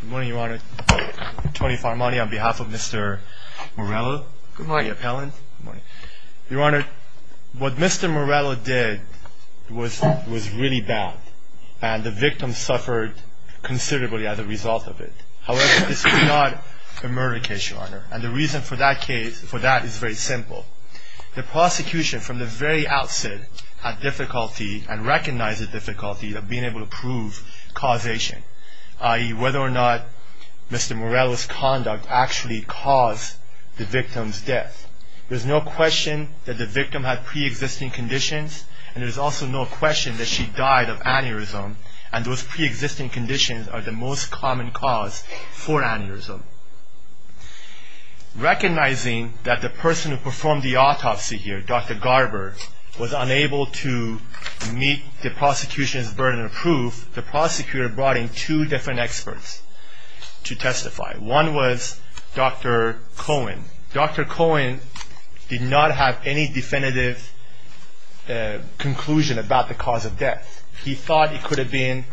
Good morning, Your Honor. Tony Farmani on behalf of Mr. Morello, the appellant. Your Honor, what Mr. Morello did was really bad, and the victim suffered considerably as a result of it. However, this could not have been a murder case, Your Honor, and the reason for that is very simple. The prosecution from the very outset had difficulty and recognized the difficulty of being able to prove causation, i.e. whether or not Mr. Morello's conduct actually caused the victim's death. There's no question that the victim had pre-existing conditions, and there's also no question that she died of aneurysm, and those pre-existing conditions are the most common cause for aneurysm. Recognizing that the person who performed the autopsy here, Dr. Garber, was unable to meet the prosecution's burden of proof, the prosecutor brought in two different experts to testify. One was Dr. Cohen. Dr. Cohen did not have any definitive conclusion about the cause of death. He thought it could have been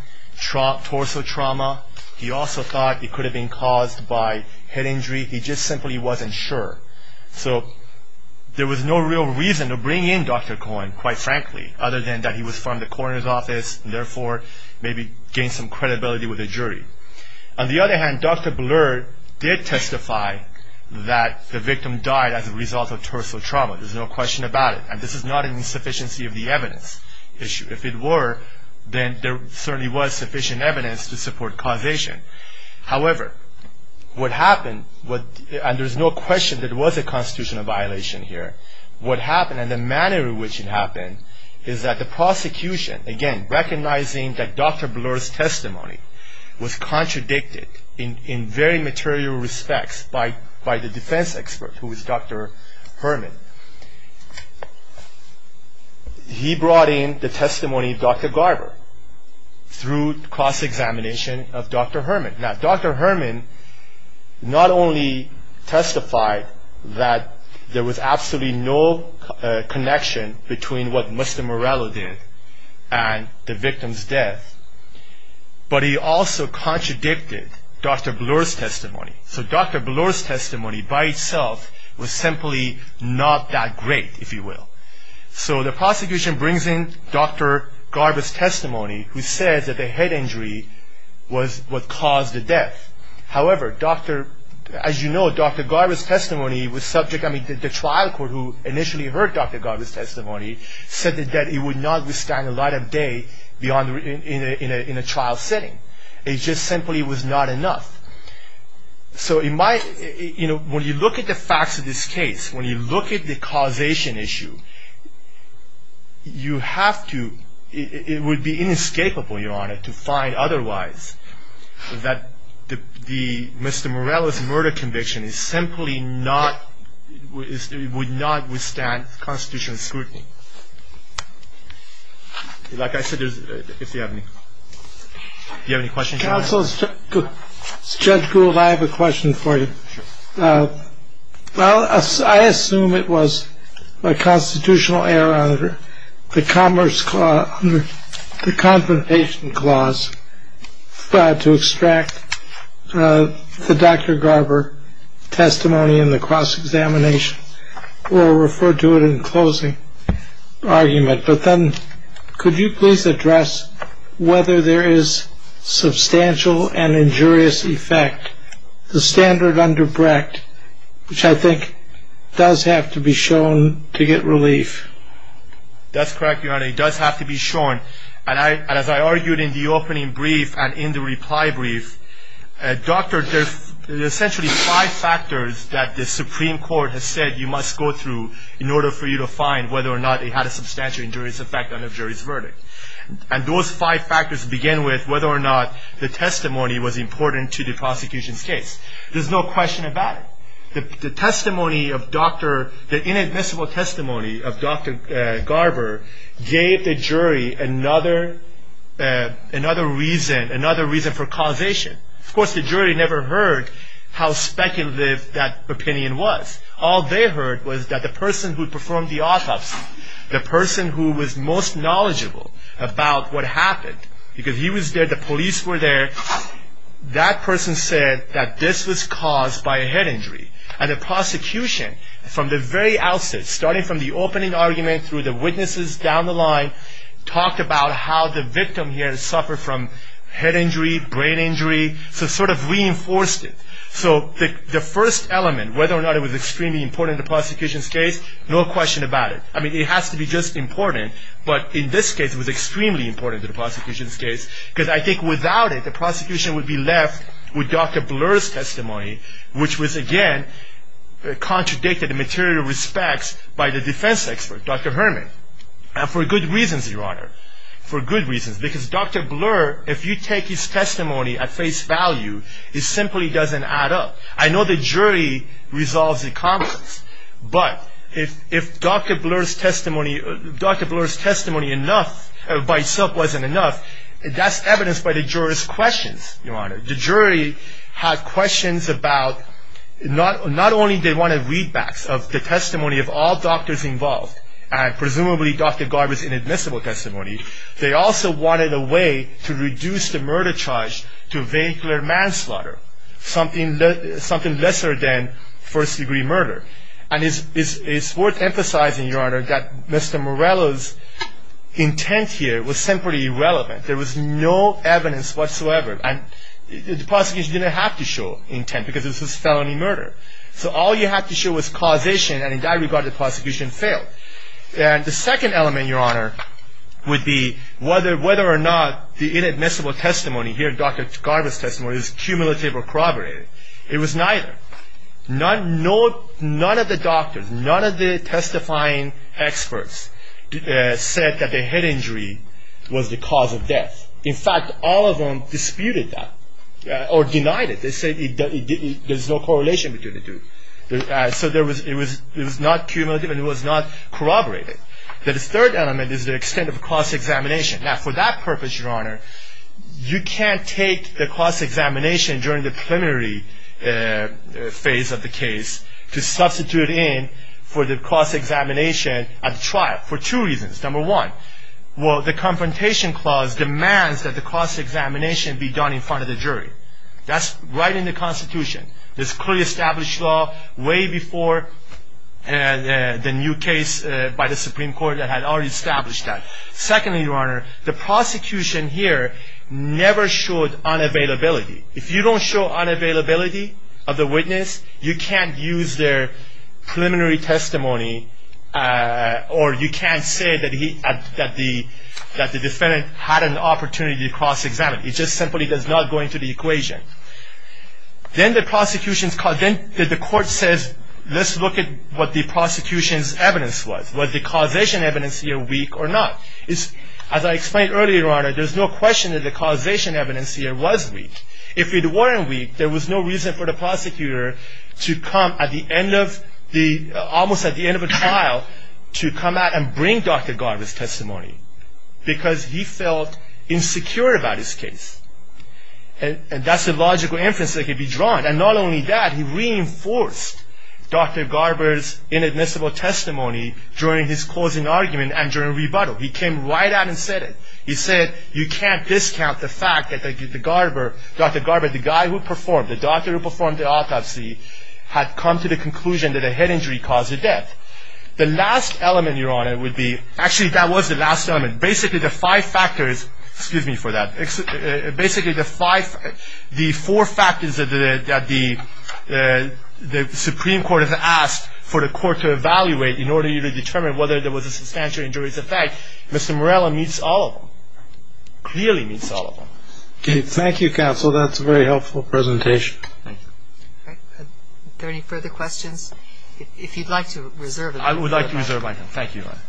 torso trauma. He also thought it could have been caused by head injury. He just simply wasn't sure, so there was no real reason to bring in Dr. Cohen, quite frankly, other than that he was from the coroner's office, and therefore maybe gained some credibility with the jury. On the other hand, Dr. Blair did testify that the victim died as a result of torso trauma. There's no question about it, and this is not an insufficiency of the evidence issue. If it were, then there certainly was sufficient evidence to support causation. However, what happened, and there's no question that it was a constitutional violation here, what happened, and the manner in which it happened, is that the prosecution, again, recognizing that Dr. Blair's testimony was contradicted in very material respects by the defense expert, who was Dr. Herman, he brought in the testimony of Dr. Garber through cross-examination of Dr. Herman. Now, Dr. Herman not only testified that there was absolutely no connection between what Mr. Morello did and the victim's death, but he also contradicted Dr. Blair's testimony. So Dr. Blair's testimony by itself was simply not that great, if you will. So the prosecution brings in Dr. Garber's testimony, who says that the head injury was what caused the death. However, as you know, Dr. Garber's testimony was subject, I mean, the trial court who initially heard Dr. Garber's testimony said that it would not withstand a light of day in a trial setting. It just simply was not enough. So it might, you know, when you look at the facts of this case, when you look at the causation issue, you have to, it would be inescapable, Your Honor, to find otherwise that Mr. Morello's murder conviction is simply not, would not withstand constitutional scrutiny. Like I said, if you have any questions. Counsel, Judge Gould, I have a question for you. Well, I assume it was a constitutional error under the Confrontation Clause to extract the Dr. Garber testimony in the cross-examination or refer to it in closing argument. But then could you please address whether there is substantial and injurious effect, the standard under Brecht, which I think does have to be shown to get relief. That's correct, Your Honor, it does have to be shown. And as I argued in the opening brief and in the reply brief, Doctor, there's essentially five factors that the Supreme Court has said you must go through in order for you to find whether or not it had a substantial injurious effect on the jury's verdict. And those five factors begin with whether or not the testimony was important to the prosecution's case. There's no question about it. The testimony of Dr., the inadmissible testimony of Dr. Garber gave the jury another reason, another reason for causation. Of course, the jury never heard how speculative that opinion was. All they heard was that the person who performed the autopsy, the person who was most knowledgeable about what happened, because he was there, the police were there, that person said that this was caused by a head injury. And the prosecution, from the very outset, starting from the opening argument through the witnesses down the line, talked about how the victim here suffered from head injury, brain injury, so sort of reinforced it. So the first element, whether or not it was extremely important to the prosecution's case, no question about it. I mean, it has to be just important, but in this case it was extremely important to the prosecution's case, because I think without it, the prosecution would be left with Dr. Blur's testimony, which was, again, contradicted in material respects by the defense expert, Dr. Herman. And for good reasons, Your Honor, for good reasons, because Dr. Blur, if you take his testimony at face value, it simply doesn't add up. I know the jury resolves the conflicts, but if Dr. Blur's testimony by itself wasn't enough, that's evidenced by the jurors' questions, Your Honor. The jury had questions about, not only did they want readbacks of the testimony of all doctors involved, and presumably Dr. Garber's inadmissible testimony, they also wanted a way to reduce the murder charge to vehicular manslaughter, something lesser than first-degree murder. And it's worth emphasizing, Your Honor, that Mr. Morello's intent here was simply irrelevant. There was no evidence whatsoever, and the prosecution didn't have to show intent, because this was felony murder. So all you had to show was causation, and in that regard the prosecution failed. And the second element, Your Honor, would be whether or not the inadmissible testimony here, Dr. Garber's testimony, is cumulative or corroborated. It was neither. None of the doctors, none of the testifying experts said that the head injury was the cause of death. In fact, all of them disputed that, or denied it. They said there's no correlation between the two. So it was not cumulative, and it was not corroborated. The third element is the extent of the cost examination. Now, for that purpose, Your Honor, you can't take the cost examination during the preliminary phase of the case to substitute in for the cost examination at trial for two reasons. Number one, well, the Confrontation Clause demands that the cost examination be done in front of the jury. That's right in the Constitution. It's clearly established law way before the new case by the Supreme Court that had already established that. Secondly, Your Honor, the prosecution here never showed unavailability. If you don't show unavailability of the witness, you can't use their preliminary testimony, or you can't say that the defendant had an opportunity to cross-examine. It just simply does not go into the equation. Then the prosecution's, then the court says, let's look at what the prosecution's evidence was. Was the causation evidence here weak or not? As I explained earlier, Your Honor, there's no question that the causation evidence here was weak. If it weren't weak, there was no reason for the prosecutor to come at the end of the, almost at the end of a trial, to come out and bring Dr. Garver's testimony, because he felt insecure about his case. And that's the logical inference that could be drawn. And not only that, he reinforced Dr. Garver's inadmissible testimony during his closing argument and during rebuttal. He came right out and said it. He said, you can't discount the fact that the Garver, Dr. Garver, the guy who performed, the doctor who performed the autopsy had come to the conclusion that a head injury caused the death. The last element, Your Honor, would be, actually that was the last element. Basically, the five factors, excuse me for that, basically the five, the four factors that the Supreme Court has asked for the court to evaluate in order to determine whether there was a substantial injuries effect, Mr. Morella meets all of them, clearly meets all of them. Thank you, counsel. That's a very helpful presentation. Thank you. All right. Are there any further questions? If you'd like to reserve it. I would like to reserve my time. Thank you. Go ahead.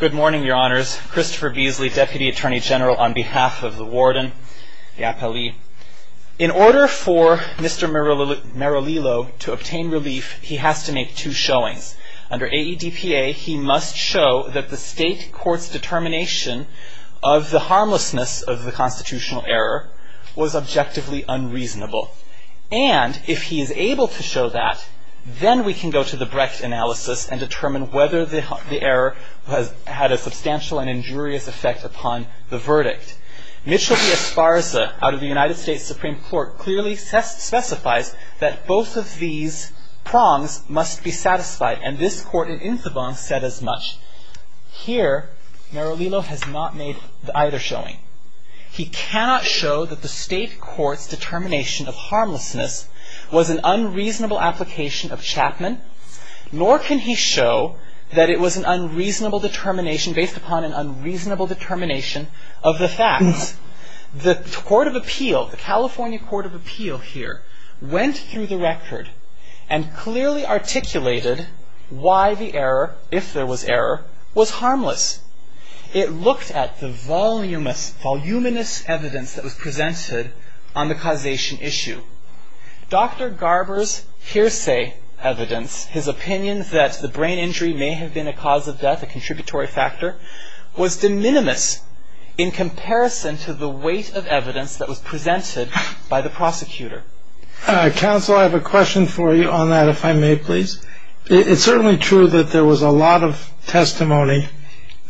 Good morning, Your Honors. Christopher Beasley, Deputy Attorney General on behalf of the warden, the appellee. In order for Mr. Merillillo to obtain relief, he has to make two showings. Under AEDPA, he must show that the state court's determination of the harmlessness of the constitutional error was objectively unreasonable. And if he is able to show that, then we can go to the Brecht analysis and determine whether the error had a substantial and injurious effect upon the verdict. Mitchell v. Esparza, out of the United States Supreme Court, clearly specifies that both of these prongs must be satisfied. And this court in Incebon said as much. Here, Merillillo has not made either showing. He cannot show that the state court's determination of harmlessness was an unreasonable application of Chapman, nor can he show that it was an unreasonable determination based upon an unreasonable determination of the facts. The Court of Appeal, the California Court of Appeal here, went through the record and clearly articulated why the error, if there was error, was harmless. It looked at the voluminous evidence that was presented on the causation issue. Dr. Garber's hearsay evidence, his opinion that the brain injury may have been a cause of death, a contributory factor, was de minimis in comparison to the weight of evidence that was presented by the prosecutor. Counsel, I have a question for you on that, if I may, please. It's certainly true that there was a lot of testimony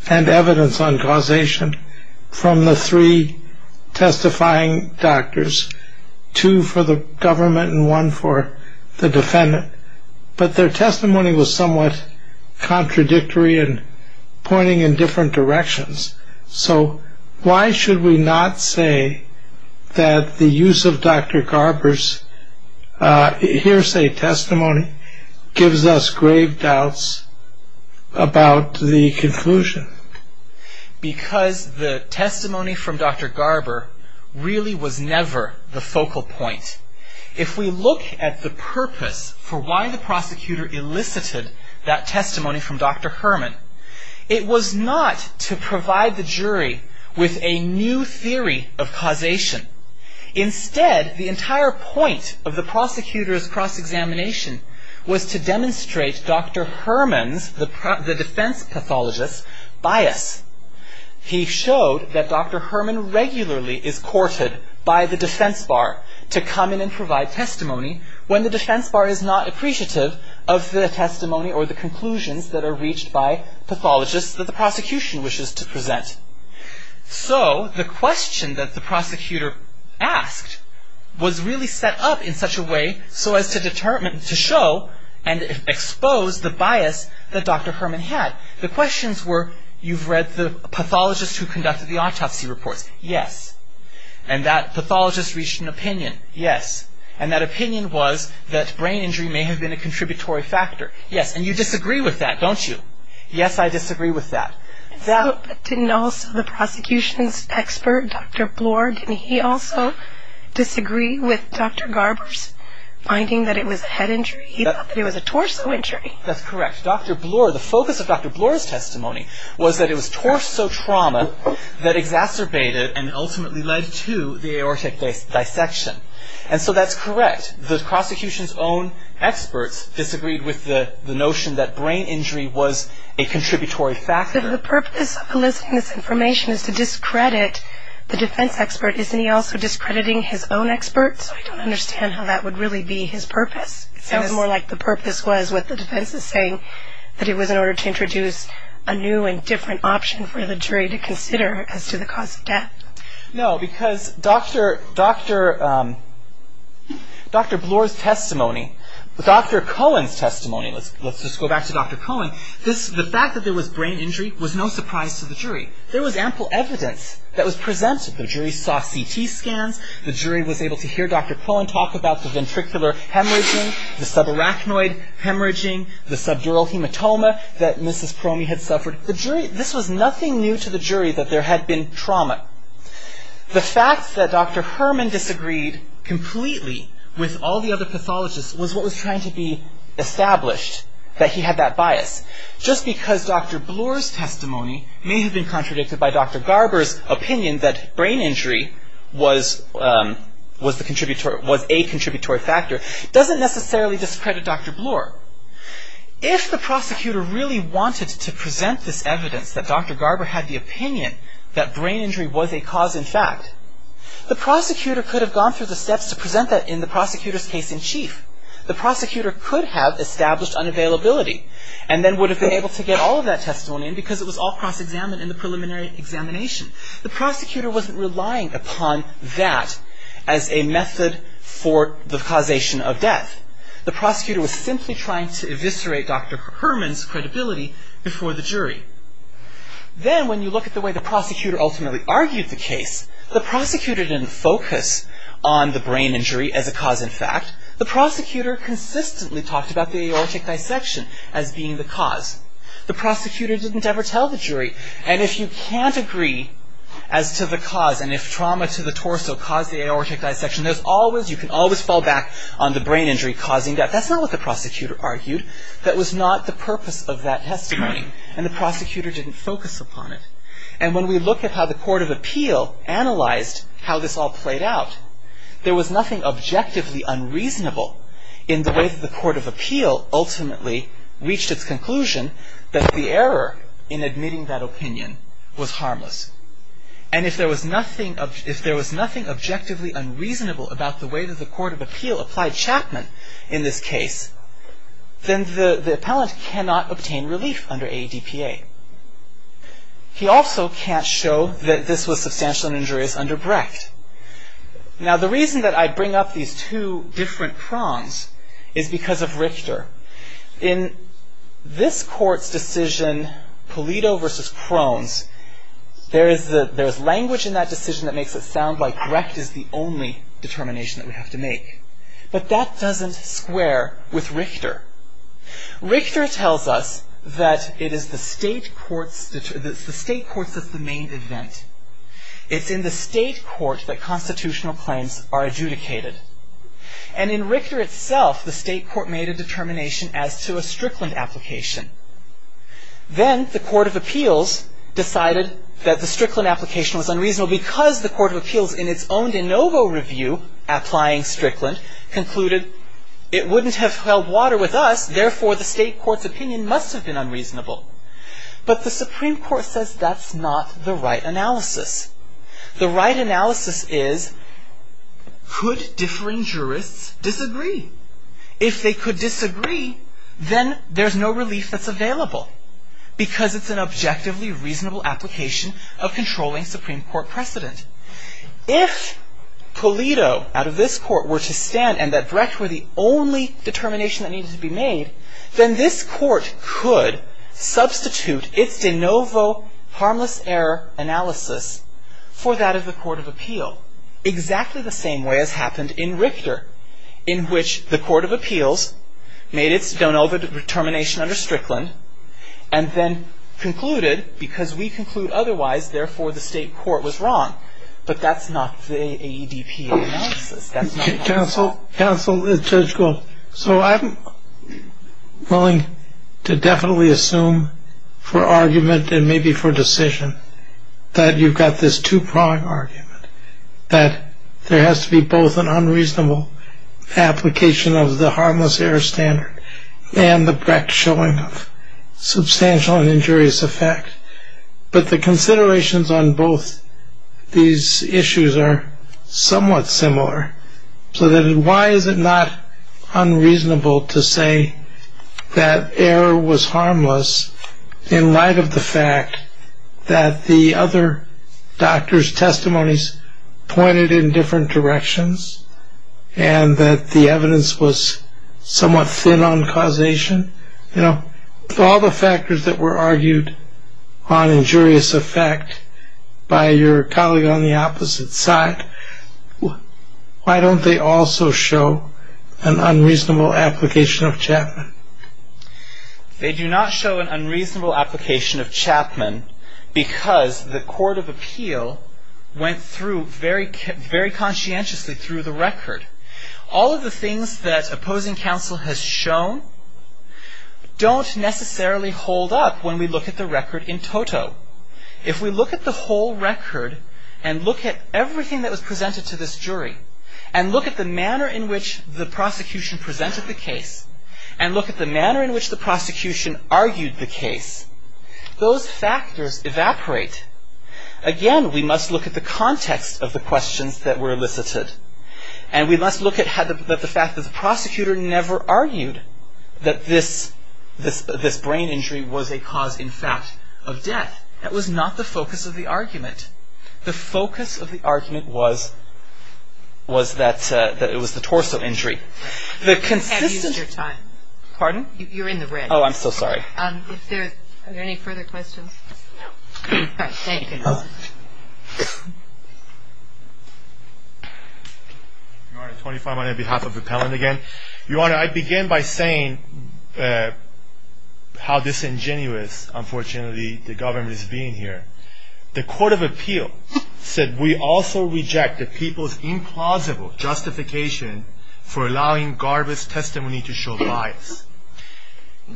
and evidence on causation from the three testifying doctors, two for the government and one for the defendant, but their testimony was somewhat contradictory and pointing in different directions. So why should we not say that the use of Dr. Garber's hearsay testimony gives us grave doubts about the conclusion? Because the testimony from Dr. Garber really was never the focal point. If we look at the purpose for why the prosecutor elicited that testimony from Dr. Herman, it was not to provide the jury with a new theory of causation. Instead, the entire point of the prosecutor's cross-examination was to demonstrate Dr. Herman's, the defense pathologist's, bias. He showed that Dr. Herman regularly is courted by the defense bar to come in and provide testimony when the defense bar is not appreciative of the testimony or the conclusions that are reached by pathologists that the prosecution wishes to present. So the question that the prosecutor asked was really set up in such a way so as to determine, to show and expose the bias that Dr. Herman had. The questions were, you've read the pathologist who conducted the autopsy reports. Yes. And that pathologist reached an opinion. Yes. And that opinion was that brain injury may have been a contributory factor. Yes. And you disagree with that, don't you? Yes, I disagree with that. Didn't also the prosecution's expert, Dr. Bloor, didn't he also disagree with Dr. Garber's finding that it was a head injury? He thought that it was a torso injury. That's correct. Dr. Bloor, the focus of Dr. Bloor's testimony was that it was torso trauma that exacerbated and ultimately led to the aortic dissection. And so that's correct. The prosecution's own experts disagreed with the notion that brain injury was a contributory factor. The purpose of eliciting this information is to discredit the defense expert. Isn't he also discrediting his own experts? I don't understand how that would really be his purpose. It sounds more like the purpose was what the defense is saying, that it was in order to introduce a new and different option for the jury to consider as to the cause of death. No, because Dr. Bloor's testimony, Dr. Cohen's testimony, let's just go back to Dr. Cohen, the fact that there was brain injury was no surprise to the jury. There was ample evidence that was presented. The jury saw CT scans. The jury was able to hear Dr. Cohen talk about the ventricular hemorrhaging, the subarachnoid hemorrhaging, the subdural hematoma that Mrs. Crony had suffered. This was nothing new to the jury that there had been trauma. The fact that Dr. Herman disagreed completely with all the other pathologists was what was trying to be established, that he had that bias. Just because Dr. Bloor's testimony may have been contradicted by Dr. Garber's opinion that brain injury was a contributory factor, doesn't necessarily discredit Dr. Bloor. If the prosecutor really wanted to present this evidence that Dr. Garber had the opinion that brain injury was a cause in fact, the prosecutor could have gone through the steps to present that in the prosecutor's case in chief. The prosecutor could have established unavailability and then would have been able to get all of that testimony in because it was all cross-examined in the preliminary examination. The prosecutor wasn't relying upon that as a method for the causation of death. The prosecutor was simply trying to eviscerate Dr. Herman's credibility before the jury. Then, when you look at the way the prosecutor ultimately argued the case, the prosecutor didn't focus on the brain injury as a cause in fact. The prosecutor consistently talked about the aortic dissection as being the cause. The prosecutor didn't ever tell the jury. And if you can't agree as to the cause, and if trauma to the torso caused the aortic dissection, you can always fall back on the brain injury causing death. That's not what the prosecutor argued. That was not the purpose of that testimony, and the prosecutor didn't focus upon it. And when we look at how the Court of Appeal analyzed how this all played out, there was nothing objectively unreasonable in the way that the Court of Appeal ultimately reached its conclusion that the error in admitting that opinion was harmless. And if there was nothing objectively unreasonable about the way that the Court of Appeal applied Chapman in this case, then the appellant cannot obtain relief under AEDPA. He also can't show that this was substantial and injurious under Brecht. Now, the reason that I bring up these two different prongs is because of Richter. In this court's decision, Pulido v. Krones, there is language in that decision that makes it sound like Brecht is the only determination that we have to make. But that doesn't square with Richter. Richter tells us that it is the state courts that's the main event. It's in the state court that constitutional claims are adjudicated. And in Richter itself, the state court made a determination as to a Strickland application. Then the Court of Appeals decided that the Strickland application was unreasonable because the Court of Appeals, in its own de novo review applying Strickland, concluded it wouldn't have held water with us, therefore the state court's opinion must have been unreasonable. But the Supreme Court says that's not the right analysis. The right analysis is, could differing jurists disagree? If they could disagree, then there's no relief that's available because it's an objectively reasonable application of controlling Supreme Court precedent. If Pulido, out of this court, were to stand and that Brecht were the only determination that needed to be made, then this court could substitute its de novo harmless error analysis for that of the Court of Appeal. Exactly the same way as happened in Richter, in which the Court of Appeals made its de novo determination under Strickland and then concluded, because we conclude otherwise, therefore the state court was wrong. But that's not the AEDPA analysis. Counsel, Judge Gold. So I'm willing to definitely assume for argument and maybe for decision that you've got this two-prong argument that there has to be both an unreasonable application of the harmless error standard and the Brecht showing of substantial and injurious effect. But the considerations on both these issues are somewhat similar. So then why is it not unreasonable to say that error was harmless in light of the fact that the other doctor's testimonies pointed in different directions and that the evidence was somewhat thin on causation? Of all the factors that were argued on injurious effect by your colleague on the opposite side, why don't they also show an unreasonable application of Chapman? They do not show an unreasonable application of Chapman because the Court of Appeal went through very conscientiously through the record. All of the things that opposing counsel has shown don't necessarily hold up when we look at the record in toto. If we look at the whole record and look at everything that was presented to this jury and look at the manner in which the prosecution presented the case and look at the manner in which the prosecution argued the case, those factors evaporate. Again, we must look at the context of the questions that were elicited and we must look at the fact that the prosecutor never argued that this brain injury was a cause, in fact, of death. That was not the focus of the argument. The focus of the argument was that it was the torso injury. You have used your time. Pardon? You're in the red. Oh, I'm so sorry. Are there any further questions? No. All right. Thank you. Your Honor, 25 on behalf of Appellant again. Your Honor, I begin by saying how disingenuous, unfortunately, the government is being here. The Court of Appeal said we also reject the people's implausible justification for allowing Garber's testimony to show bias.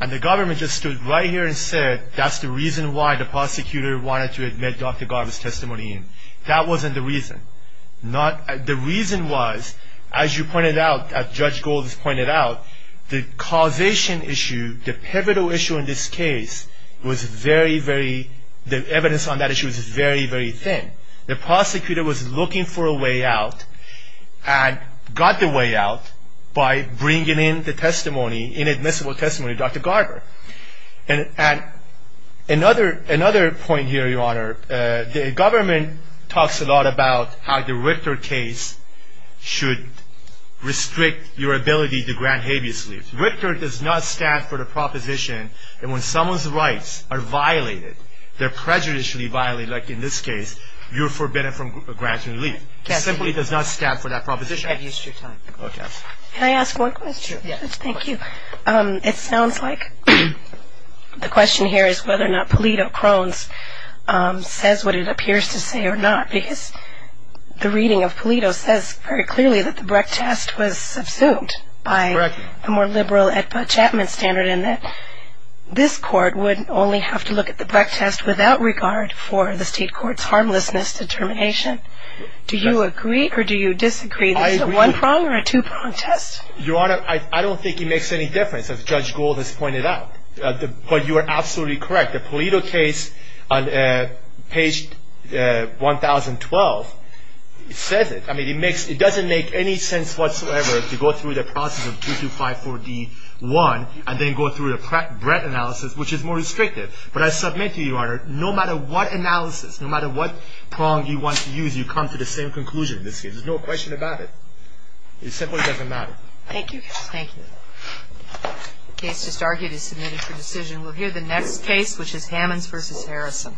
And the government just stood right here and said that's the reason why the prosecutor wanted to admit Dr. Garber's testimony in. That wasn't the reason. The reason was, as you pointed out, as Judge Gold pointed out, the causation issue, the pivotal issue in this case, was very, very, the evidence on that issue was very, very thin. The prosecutor was looking for a way out and got the way out by bringing in the testimony, inadmissible testimony of Dr. Garber. And another point here, Your Honor, the government talks a lot about how the Richter case should restrict your ability to grant habeas leave. Richter does not stand for the proposition that when someone's rights are violated, they're prejudicially violated, like in this case, you're forbidden from granting leave. It simply does not stand for that proposition. Have use of your time. Okay. Can I ask one question? Yes. Thank you. It sounds like the question here is whether or not Polito Crones says what it appears to say or not, because the reading of Polito says very clearly that the Brecht test was subsumed by the more liberal Chapman standard and that this court would only have to look at the Brecht test without regard for the state court's harmlessness determination. Do you agree or do you disagree that it's a one-prong or a two-prong test? Your Honor, I don't think it makes any difference, as Judge Gold has pointed out. But you are absolutely correct. The Polito case on page 1012 says it. I mean, it doesn't make any sense whatsoever to go through the process of 2254D1 and then go through the Brecht analysis, which is more restrictive. But I submit to you, Your Honor, no matter what analysis, no matter what prong you want to use, you come to the same conclusion in this case. There's no question about it. It simply doesn't matter. Thank you. Thank you. The case just argued is submitted for decision. We'll hear the next case, which is Hammons v. Harrison.